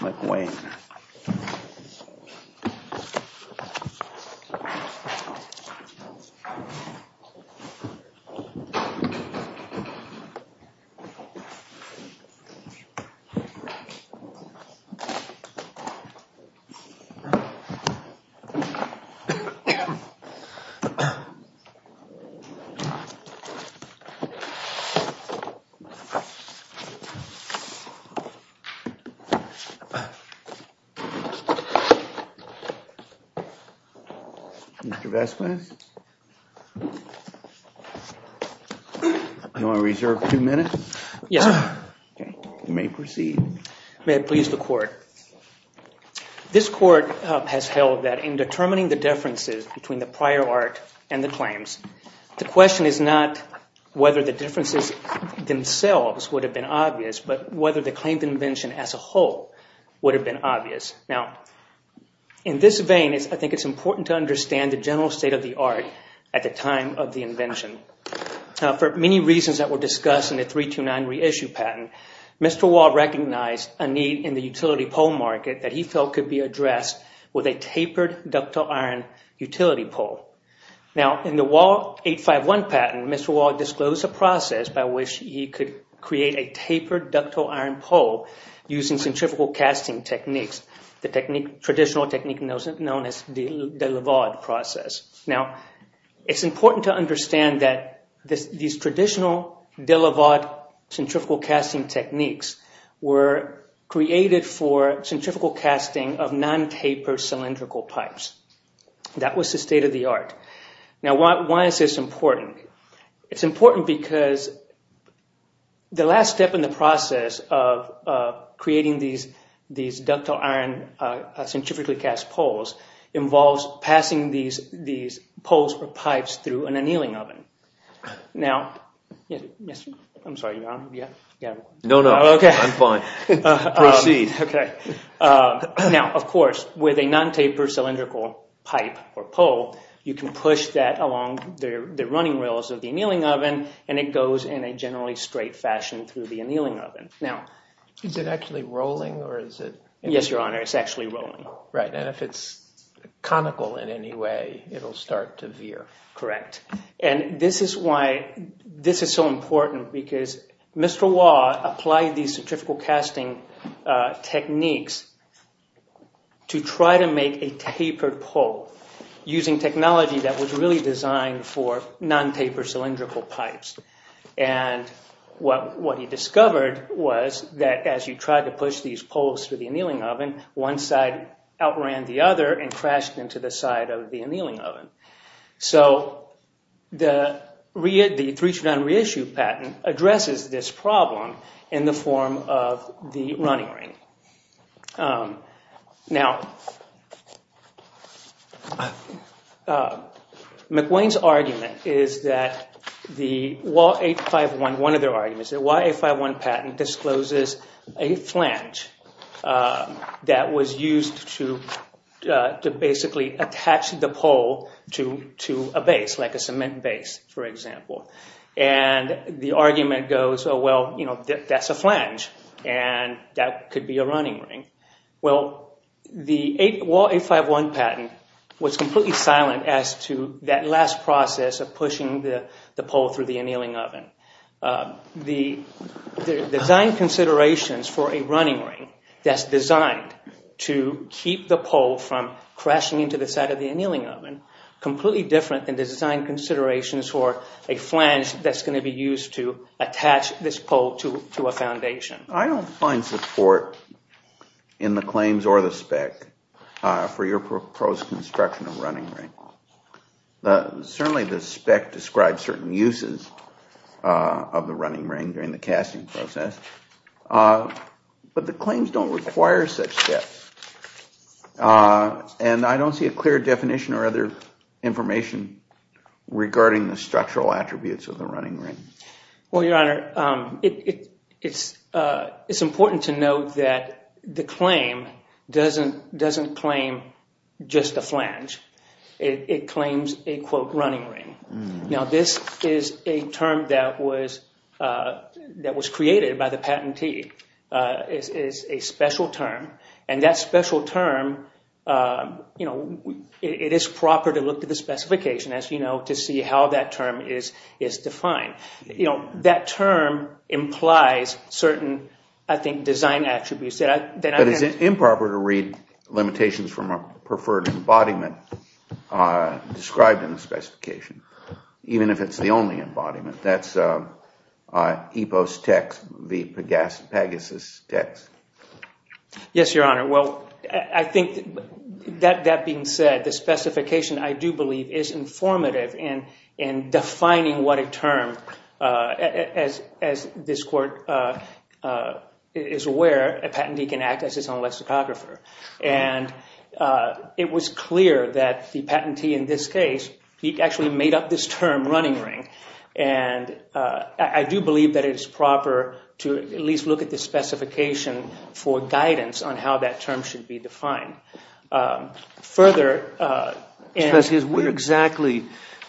McWane. This court has held that in determining the differences between the prior art and the claims, the question is not whether the differences themselves would have been obvious, but whether the claimed invention as a whole would have been obvious. In this vein, I think it's important to understand the general state of the art at the time of the invention. For many reasons that were discussed in the 329 reissue patent, Mr. Waugh recognized a need in the utility pole market that he felt could be addressed with a tapered ductile iron utility pole. In the Waugh 851 patent, Mr. Waugh disclosed a process by which he could create a tapered ductile iron pole using centrifugal casting techniques, the traditional technique known as the Delavaude process. Now it's important to understand that these traditional Delavaude centrifugal casting techniques were created for centrifugal casting of non-tapered cylindrical pipes. That was the state of the art. Now why is this important? It's important because the last step in the process of creating these ductile iron centrifugally cast poles involves passing these poles or pipes through an annealing oven. Now of course, with a non-tapered cylindrical pipe or pole, you can push that along the running rails of the annealing oven and it goes in a generally straight fashion through the annealing oven. Now... Is it actually rolling or is it... Yes, Your Honor, it's actually rolling. Right, and if it's conical in any way, it'll start to veer. Correct. And this is why this is so important because Mr. Waugh applied these centrifugal casting techniques to try to make a tapered pole using technology that was really designed for non-tapered cylindrical pipes. And what he discovered was that as you tried to push these poles through the annealing oven, one side outran the other and crashed into the side of the annealing oven. So the three-strand reissue patent addresses this problem in the form of the running ring. Now, McWane's argument is that the WA-851, one of their arguments, the WA-851 patent discloses a flange that was used to basically attach the pole to a base, like a cement base, for example. And the argument goes, oh, well, you know, that's a flange and that could be a running ring. Well, the WA-851 patent was completely silent as to that last process of pushing the pole through the annealing oven. The design considerations for a running ring that's designed to keep the pole from crashing into the side of the annealing oven are completely different than the design considerations for a flange that's going to be used to attach this pole to a foundation. I don't find support in the claims or the spec for your proposed construction of running ring. Certainly, the spec describes certain uses of the running ring during the casting process, but the claims don't require such steps. And I don't see a clear definition or other information regarding the structural attributes of the running ring. Well, Your Honor, it's important to note that the claim doesn't claim just a flange. It claims a, quote, running ring. Now, this is a term that was created by the patentee. It's a special term, and that special term, it is proper to look at the specification, as you know, to see how that term is defined. That term implies certain, I think, design attributes that I'm going to... But it's improper to read limitations from a preferred embodiment described in the specification, even if it's the only embodiment. That's EPO's text, the Pegasus text. Yes, Your Honor. Well, I think that being said, the specification, I do believe, is informative in defining what a term, as this court is aware, a patentee can act as his own lexicographer. And it was clear that the patentee in this case, he actually made up this term, running ring. And I do believe that it's proper to at least look at the specification for guidance on how that term should be defined. Mr. Peskis, what exactly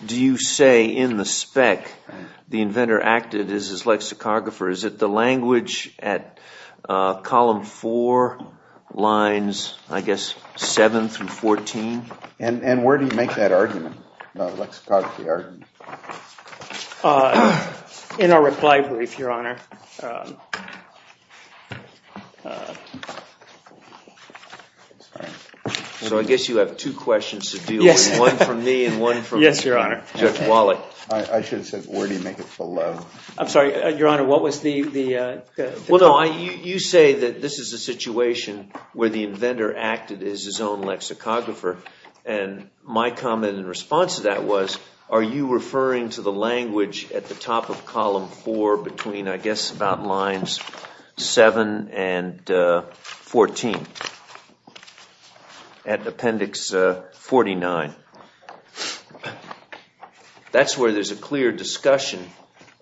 do you say in the spec the inventor acted as his lexicographer? Is it the language at column four, lines, I guess, seven through 14? And where do you make that argument, the lexicography argument? In our reply brief, Your Honor. So I guess you have two questions to deal with, one from me and one from Judge Wallach. I should have said, where do you make it below? I'm sorry, Your Honor, what was the... Well, no, you say that this is a situation where the inventor acted as his own lexicographer. And my comment in response to that was, are you referring to the language at the top of column four between, I guess, about lines seven and 14, at appendix 49? That's where there's a clear discussion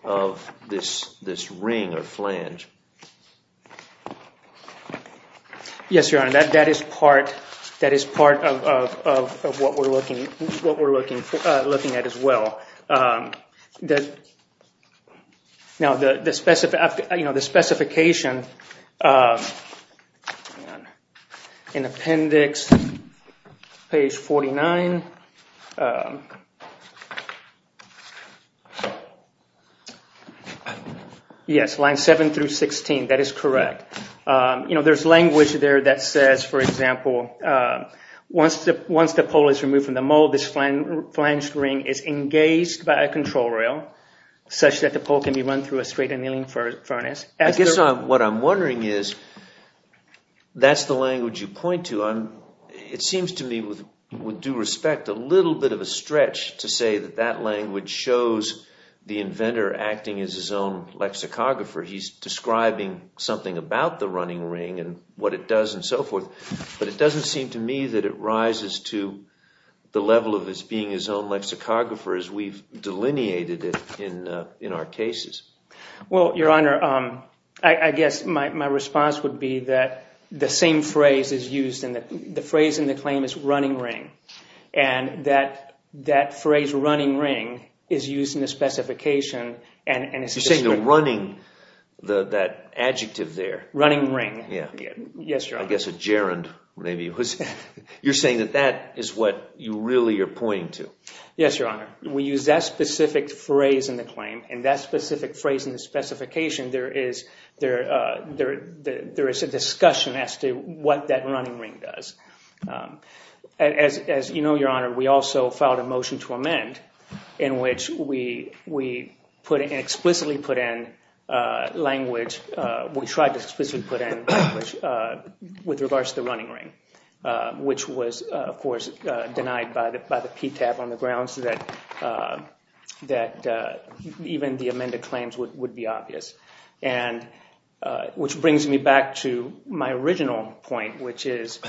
of this ring or flange. Yes, Your Honor, that is part of what we're looking at as well. Now, the specification in appendix page 49... Yes, lines seven through 16, that is correct. You know, there's language there that says, for example, once the pole is removed from the mold, this flange ring is engaged by a control rail such that the pole can be run through a straight annealing furnace. I guess what I'm wondering is, that's the language you point to. It seems to me, with due respect, a little bit of a stretch to say that that language shows the inventor acting as his own lexicographer. He's describing something about the running ring and what it does and so forth. But it doesn't seem to me that it rises to the level of his being his own lexicographer as we've delineated it in our cases. Well, Your Honor, I guess my response would be that the same phrase is used, and the phrase in the claim is running ring. And that phrase running ring is used in the specification and it's... You're saying the running, that adjective there. Running ring. Yeah. Yes, Your Honor. I guess a gerund, maybe. You're saying that that is what you really are pointing to. Yes, Your Honor. We use that specific phrase in the claim, and that specific phrase in the specification, there is a discussion as to what that running ring does. As you know, Your Honor, we also filed a motion to amend in which we explicitly put in language, we tried to explicitly put in language with regards to the running ring, which was, of course, denied by the PTAB on the grounds that even the amended claims would be obvious. And which brings me back to my original point, which is,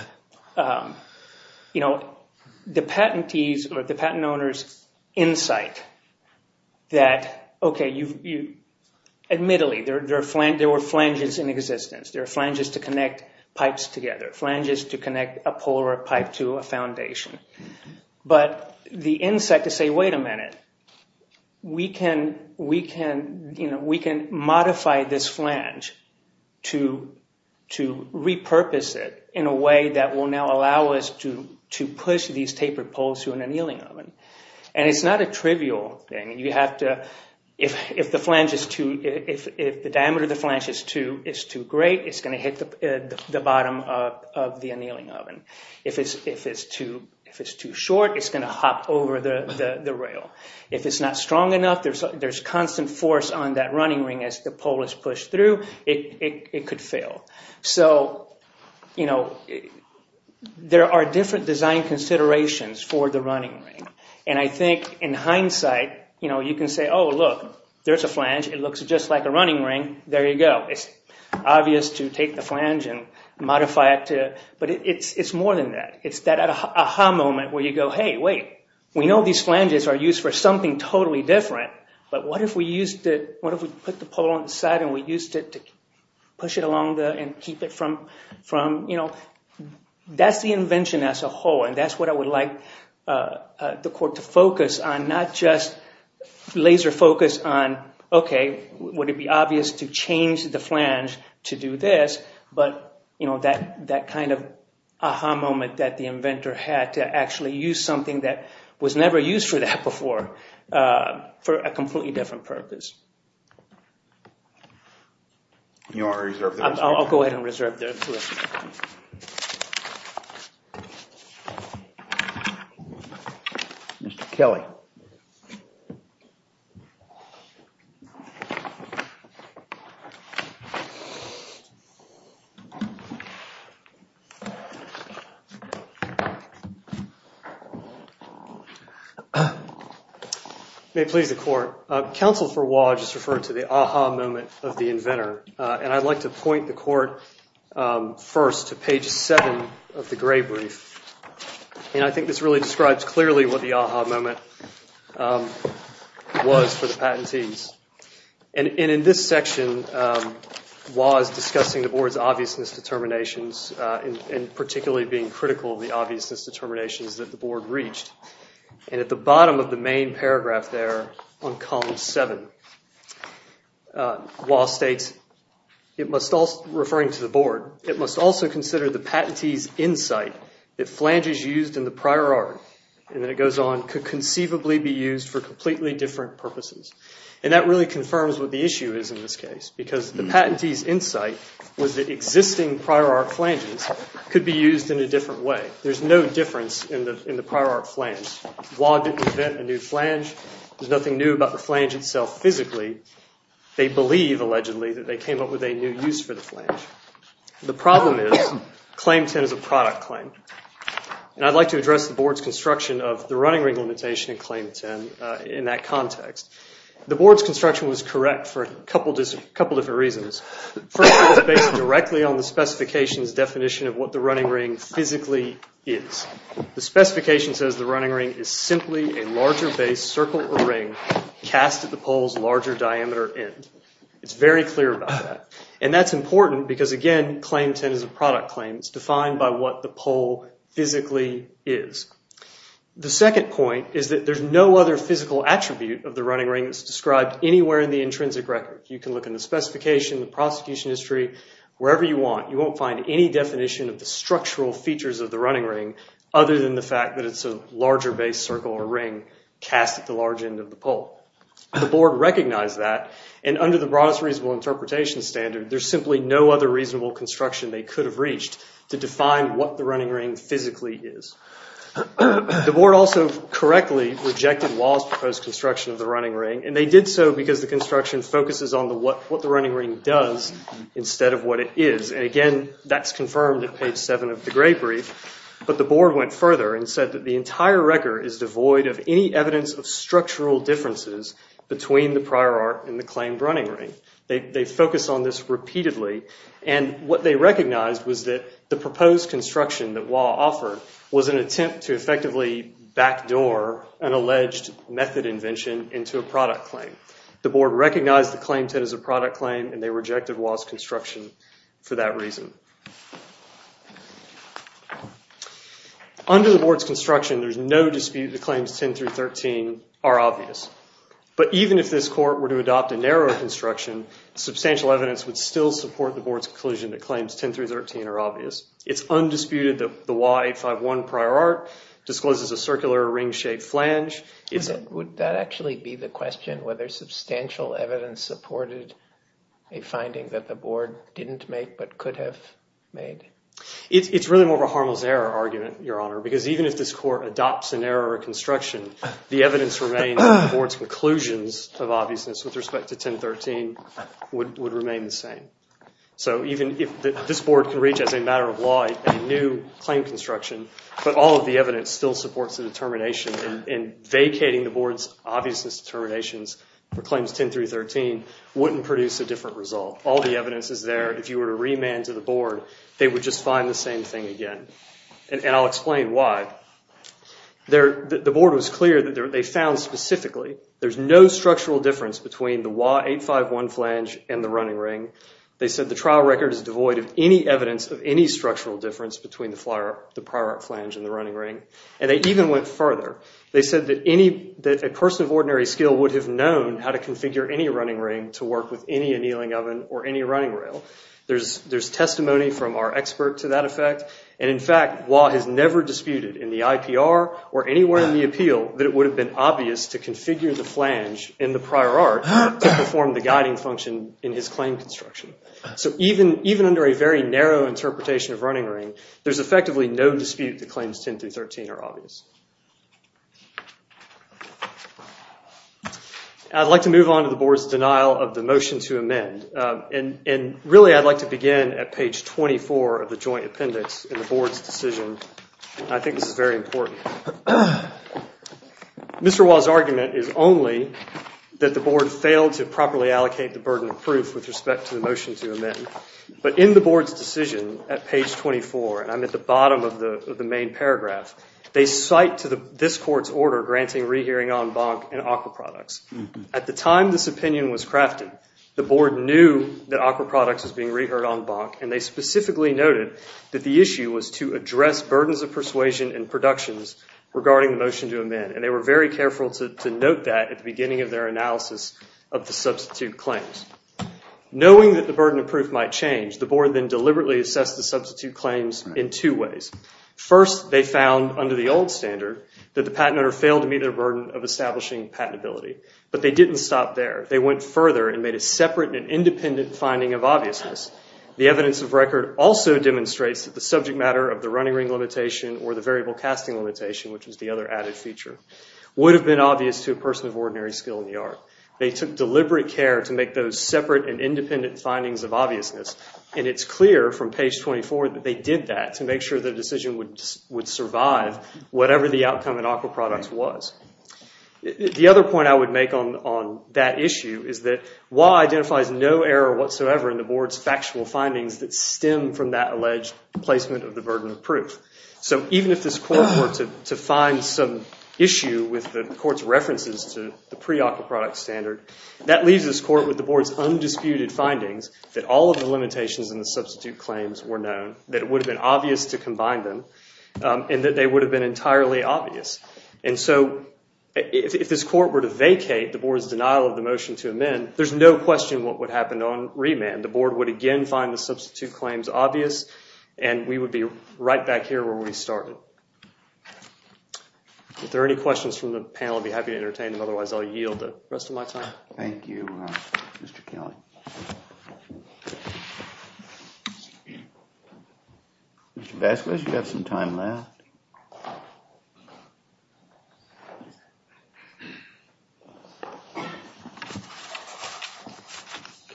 you know, the patentees or the patent owners insight that, okay, you've... Admittedly, there were flanges in existence. There are flanges to connect pipes together, flanges to connect a pole or a pipe to a foundation. But the insight to say, wait a minute, we can modify this flange to repurpose it in a way that will now allow us to push these tapered poles to an annealing oven. And it's not a trivial thing. You have to... If the flange is too... If the diameter of the flange is too great, it's going to hit the bottom of the annealing oven. If it's too short, it's going to hop over the rail. If it's not strong enough, there's constant force on that running ring. As the pole is pushed through, it could fail. So, you know, there are different design considerations for the running ring. And I think in hindsight, you know, you can say, oh, look, there's a flange. It looks just like a running ring. There you go. It's obvious to take the flange and modify it to... But it's more than that. It's that aha moment where you go, hey, wait, we know these flanges are used for something totally different, but what if we used it... What if we put the pole on the side and we used it to push it along and keep it from, you know... That's the invention as a whole, and that's what I would like the court to focus on, not just laser focus on, okay, would it be obvious to change the flange to do this, but, you know, that kind of aha moment that the inventor had to actually use something that was never used for that before for a completely different purpose. I'll go ahead and reserve that. Mr. Kelly. May it please the court. Counsel for Waugh just referred to the aha moment of the inventor, and I'd like to point the court first to page seven of the gray brief. And I think this really describes clearly what the aha moment was for the patentees. And in this section, Waugh is discussing the board's obviousness determinations and particularly being critical of the obviousness determinations that the board reached. And at the bottom of the main paragraph there on column seven, Waugh states, referring to the board, it must also consider the patentees' insight that flanges used in the prior art, and then it goes on, could conceivably be used for completely different purposes. And that really confirms what the issue is in this case, because the patentees' insight was that existing prior art flanges could be used in a different way. There's no difference in the prior art flange. Waugh didn't invent a new flange. There's nothing new about the flange itself physically. They believe, allegedly, that they came up with a new use for the flange. The problem is claim 10 is a product claim. And I'd like to address the board's construction of the running ring limitation in claim 10 in that context. The board's construction was correct for a couple different reasons. First, it was based directly on the specification's definition of what the running ring physically is. The specification says the running ring is simply a larger base, circle, or ring cast at the pole's larger diameter end. It's very clear about that. And that's important because, again, claim 10 is a product claim. It's defined by what the pole physically is. The second point is that there's no other physical attribute of the running ring that's described anywhere in the intrinsic record. You can look in the specification, the prosecution history, wherever you want. You won't find any definition of the structural features of the running ring other than the fact that it's a larger base, circle, or ring cast at the large end of the pole. The board recognized that. And under the broadest reasonable interpretation standard, there's simply no other reasonable construction they could have reached to define what the running ring physically is. The board also correctly rejected Wah's proposed construction of the running ring. And they did so because the construction focuses on what the running ring does instead of what it is. And, again, that's confirmed at page 7 of the Gray Brief. But the board went further and said that the entire record is devoid of any evidence of structural differences between the prior art and the claimed running ring. They focused on this repeatedly. And what they recognized was that the proposed construction that Wah offered was an attempt to effectively backdoor an alleged method invention into a product claim. The board recognized the claim to it as a product claim. And they rejected Wah's construction for that reason. Under the board's construction, there's no dispute the claims 10 through 13 are obvious. But even if this court were to adopt a narrower construction, substantial evidence would still support the board's conclusion that claims 10 through 13 are obvious. It's undisputed that the Wah 851 prior art discloses a circular ring-shaped flange. Would that actually be the question, whether substantial evidence supported a finding that the board didn't make but could have made? It's really more of a harmless error argument, Your Honor, because even if this court adopts an error of construction, the evidence remains that the board's conclusions of obviousness with respect to 10 through 13 would remain the same. So even if this board can reach, as a matter of law, a new claim construction, but all of the evidence still supports the determination in vacating the board's obviousness determinations for claims 10 through 13, wouldn't produce a different result. All the evidence is there. If you were to remand to the board, they would just find the same thing again. And I'll explain why. The board was clear that they found specifically, there's no structural difference between the Wah 851 flange and the running ring, they said the trial record is devoid of any evidence of any structural difference between the prior art flange and the running ring, and they even went further. They said that a person of ordinary skill would have known how to configure any running ring to work with any annealing oven or any running rail. There's testimony from our expert to that effect. And in fact, Wah has never disputed in the IPR or anywhere in the appeal that it would have been obvious to configure the flange in the prior art to perform the guiding function in his claim construction. So even under a very narrow interpretation of running ring, there's effectively no dispute that claims 10 through 13 are obvious. I'd like to move on to the board's denial of the motion to amend. And really, I'd like to begin at page 24 of the joint appendix in the board's decision. I think this is very important. Mr. Wah's argument is only that the board failed to properly allocate the burden of proof with respect to the motion to amend. But in the board's decision at page 24, and I'm at the bottom of the main paragraph, they cite to this court's order granting rehearing en banc and aquaproducts. At the time this opinion was crafted, the board knew that aquaproducts was being reheard en banc, and they specifically noted that the issue was to address burdens of persuasion and productions regarding the motion to amend. And they were very careful to note that at the beginning of their analysis of the substitute claims. Knowing that the burden of proof might change, the board then deliberately assessed the substitute claims in two ways. First, they found under the old standard that the patent owner failed to meet their burden of establishing patentability. But they didn't stop there. They went further and made a separate and independent finding of obviousness. The evidence of record also demonstrates that the subject matter of the running ring limitation or the variable casting limitation, which is the other added feature, would have been obvious to a person of ordinary skill in the art. They took deliberate care to make those separate and independent findings of obviousness. And it's clear from page 24 that they did that to make sure the decision would survive whatever the outcome in aquaproducts was. The other point I would make on that issue is that WHA identifies no error whatsoever in the board's factual findings that stem from that alleged placement of the burden of proof. So even if this court were to find some issue with the court's references to the pre-aquaproduct standard, that leaves this court with the board's undisputed findings that all of the limitations in the substitute claims were known, that it would have been obvious to combine them, and that they would have been entirely obvious. And so if this court were to vacate the board's denial of the motion to amend, there's no question what would happen on remand. The board would again find the substitute claims obvious. And we would be right back here where we started. If there are any questions from the panel, I'd be happy to entertain them. Otherwise, I'll yield the rest of my time. Thank you, Mr. Kelly. Mr. Vasquez, you have some time left.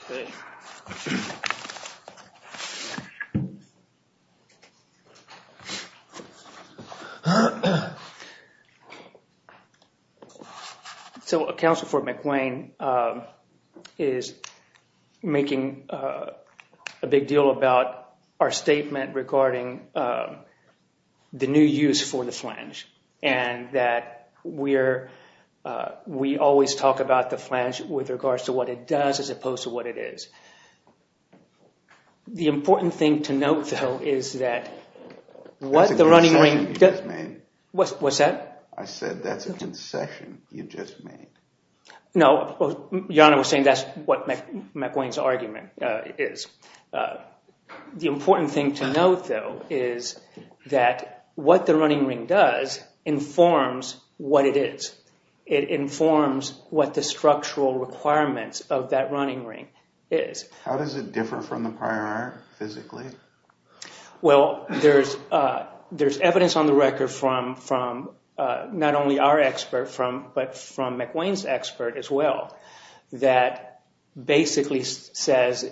Thank you. So Counsel for McWane is making a big deal about our statement regarding the new use for the flange and that we always talk about the flange with regards to what it does as opposed to what it is. The important thing to note, though, is that what the running ring does... That's a concession you just made. What's that? I said that's a concession you just made. No, Your Honor, we're saying that's what McWane's argument is. The important thing to note, though, is that what the running ring does informs what it is. It informs what the structural requirements of that running ring is. How does it differ from the prior art, physically? Well, there's evidence on the record from not only our expert, but from McWane's expert as well, that basically says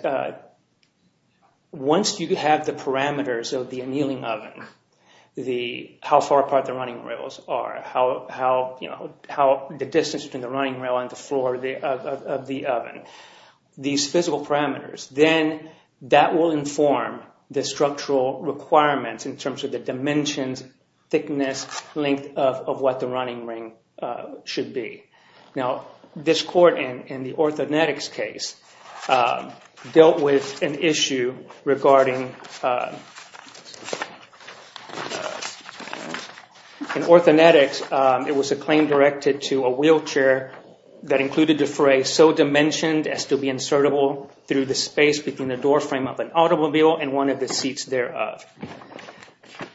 once you have the parameters of the annealing oven, how far apart the running rails are, the distance between the running rail and the floor of the then that will inform the structural requirements in terms of the dimensions, thickness, length of what the running ring should be. Now, this court in the Orthonetics case dealt with an issue regarding... In Orthonetics, it was a claim directed to a wheelchair that included the fray so dimensioned to be insertable through the space between the doorframe of an automobile and one of the seats thereof.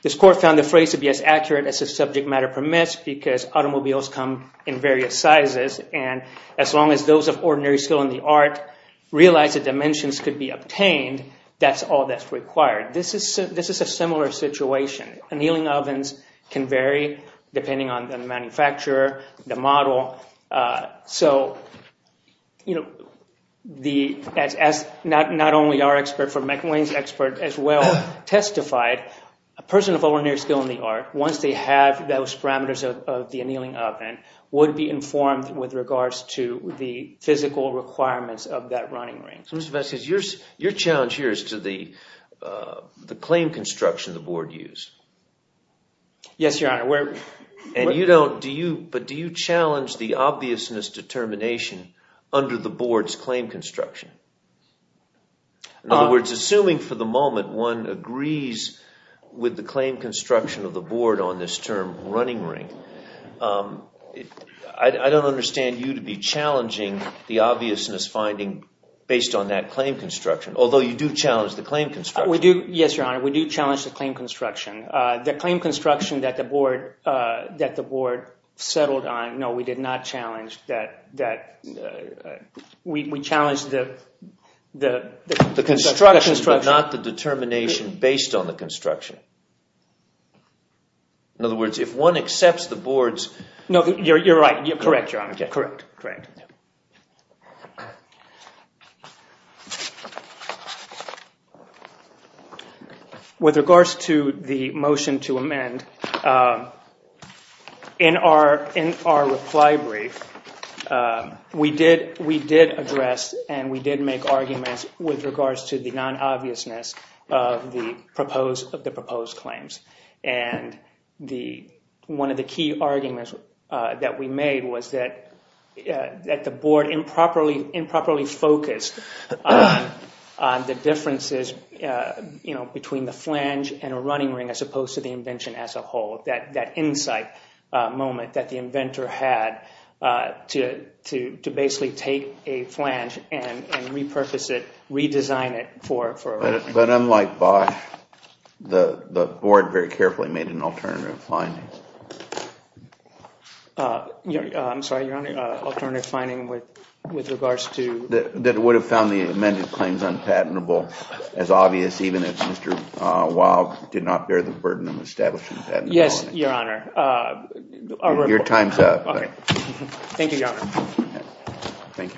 This court found the frays to be as accurate as the subject matter permits because automobiles come in various sizes. And as long as those of ordinary skill in the art realize the dimensions could be obtained, that's all that's required. This is a similar situation. Annealing ovens can vary depending on the manufacturer, the model. So not only our expert, but McWane's expert as well testified a person of ordinary skill in the art, once they have those parameters of the annealing oven, would be informed with regards to the physical requirements of that running ring. So Mr. Vasquez, your challenge here is to the claim construction the board used. Yes, Your Honor. And you don't... But do you challenge the obviousness determination under the board's claim construction? In other words, assuming for the moment one agrees with the claim construction of the board on this term running ring, I don't understand you to be challenging the obviousness finding based on that claim construction, although you do challenge the claim construction. Yes, Your Honor. We do challenge the claim construction. The claim construction that the board settled on, no, we did not challenge that. We challenged the... The construction, but not the determination based on the construction. In other words, if one accepts the board's... No, you're right. Correct, Your Honor. Correct, correct. Yeah. With regards to the motion to amend, in our reply brief, we did address and we did make arguments with regards to the non-obviousness of the proposed claims. And one of the key arguments that we made was that the board improperly focused on the differences between the flange and a running ring as opposed to the invention as a whole. That insight moment that the inventor had to basically take a flange and repurpose it, redesign it for a running ring. But unlike Bosch, the board very carefully made an alternative finding. I'm sorry, Your Honor. Alternative finding with regards to... That would have found the amended claims unpatentable as obvious even if Mr. Wow did not bear the burden of establishing that. Yes, Your Honor. Your time's up. Okay. Thank you, Your Honor. Thank you, counsel.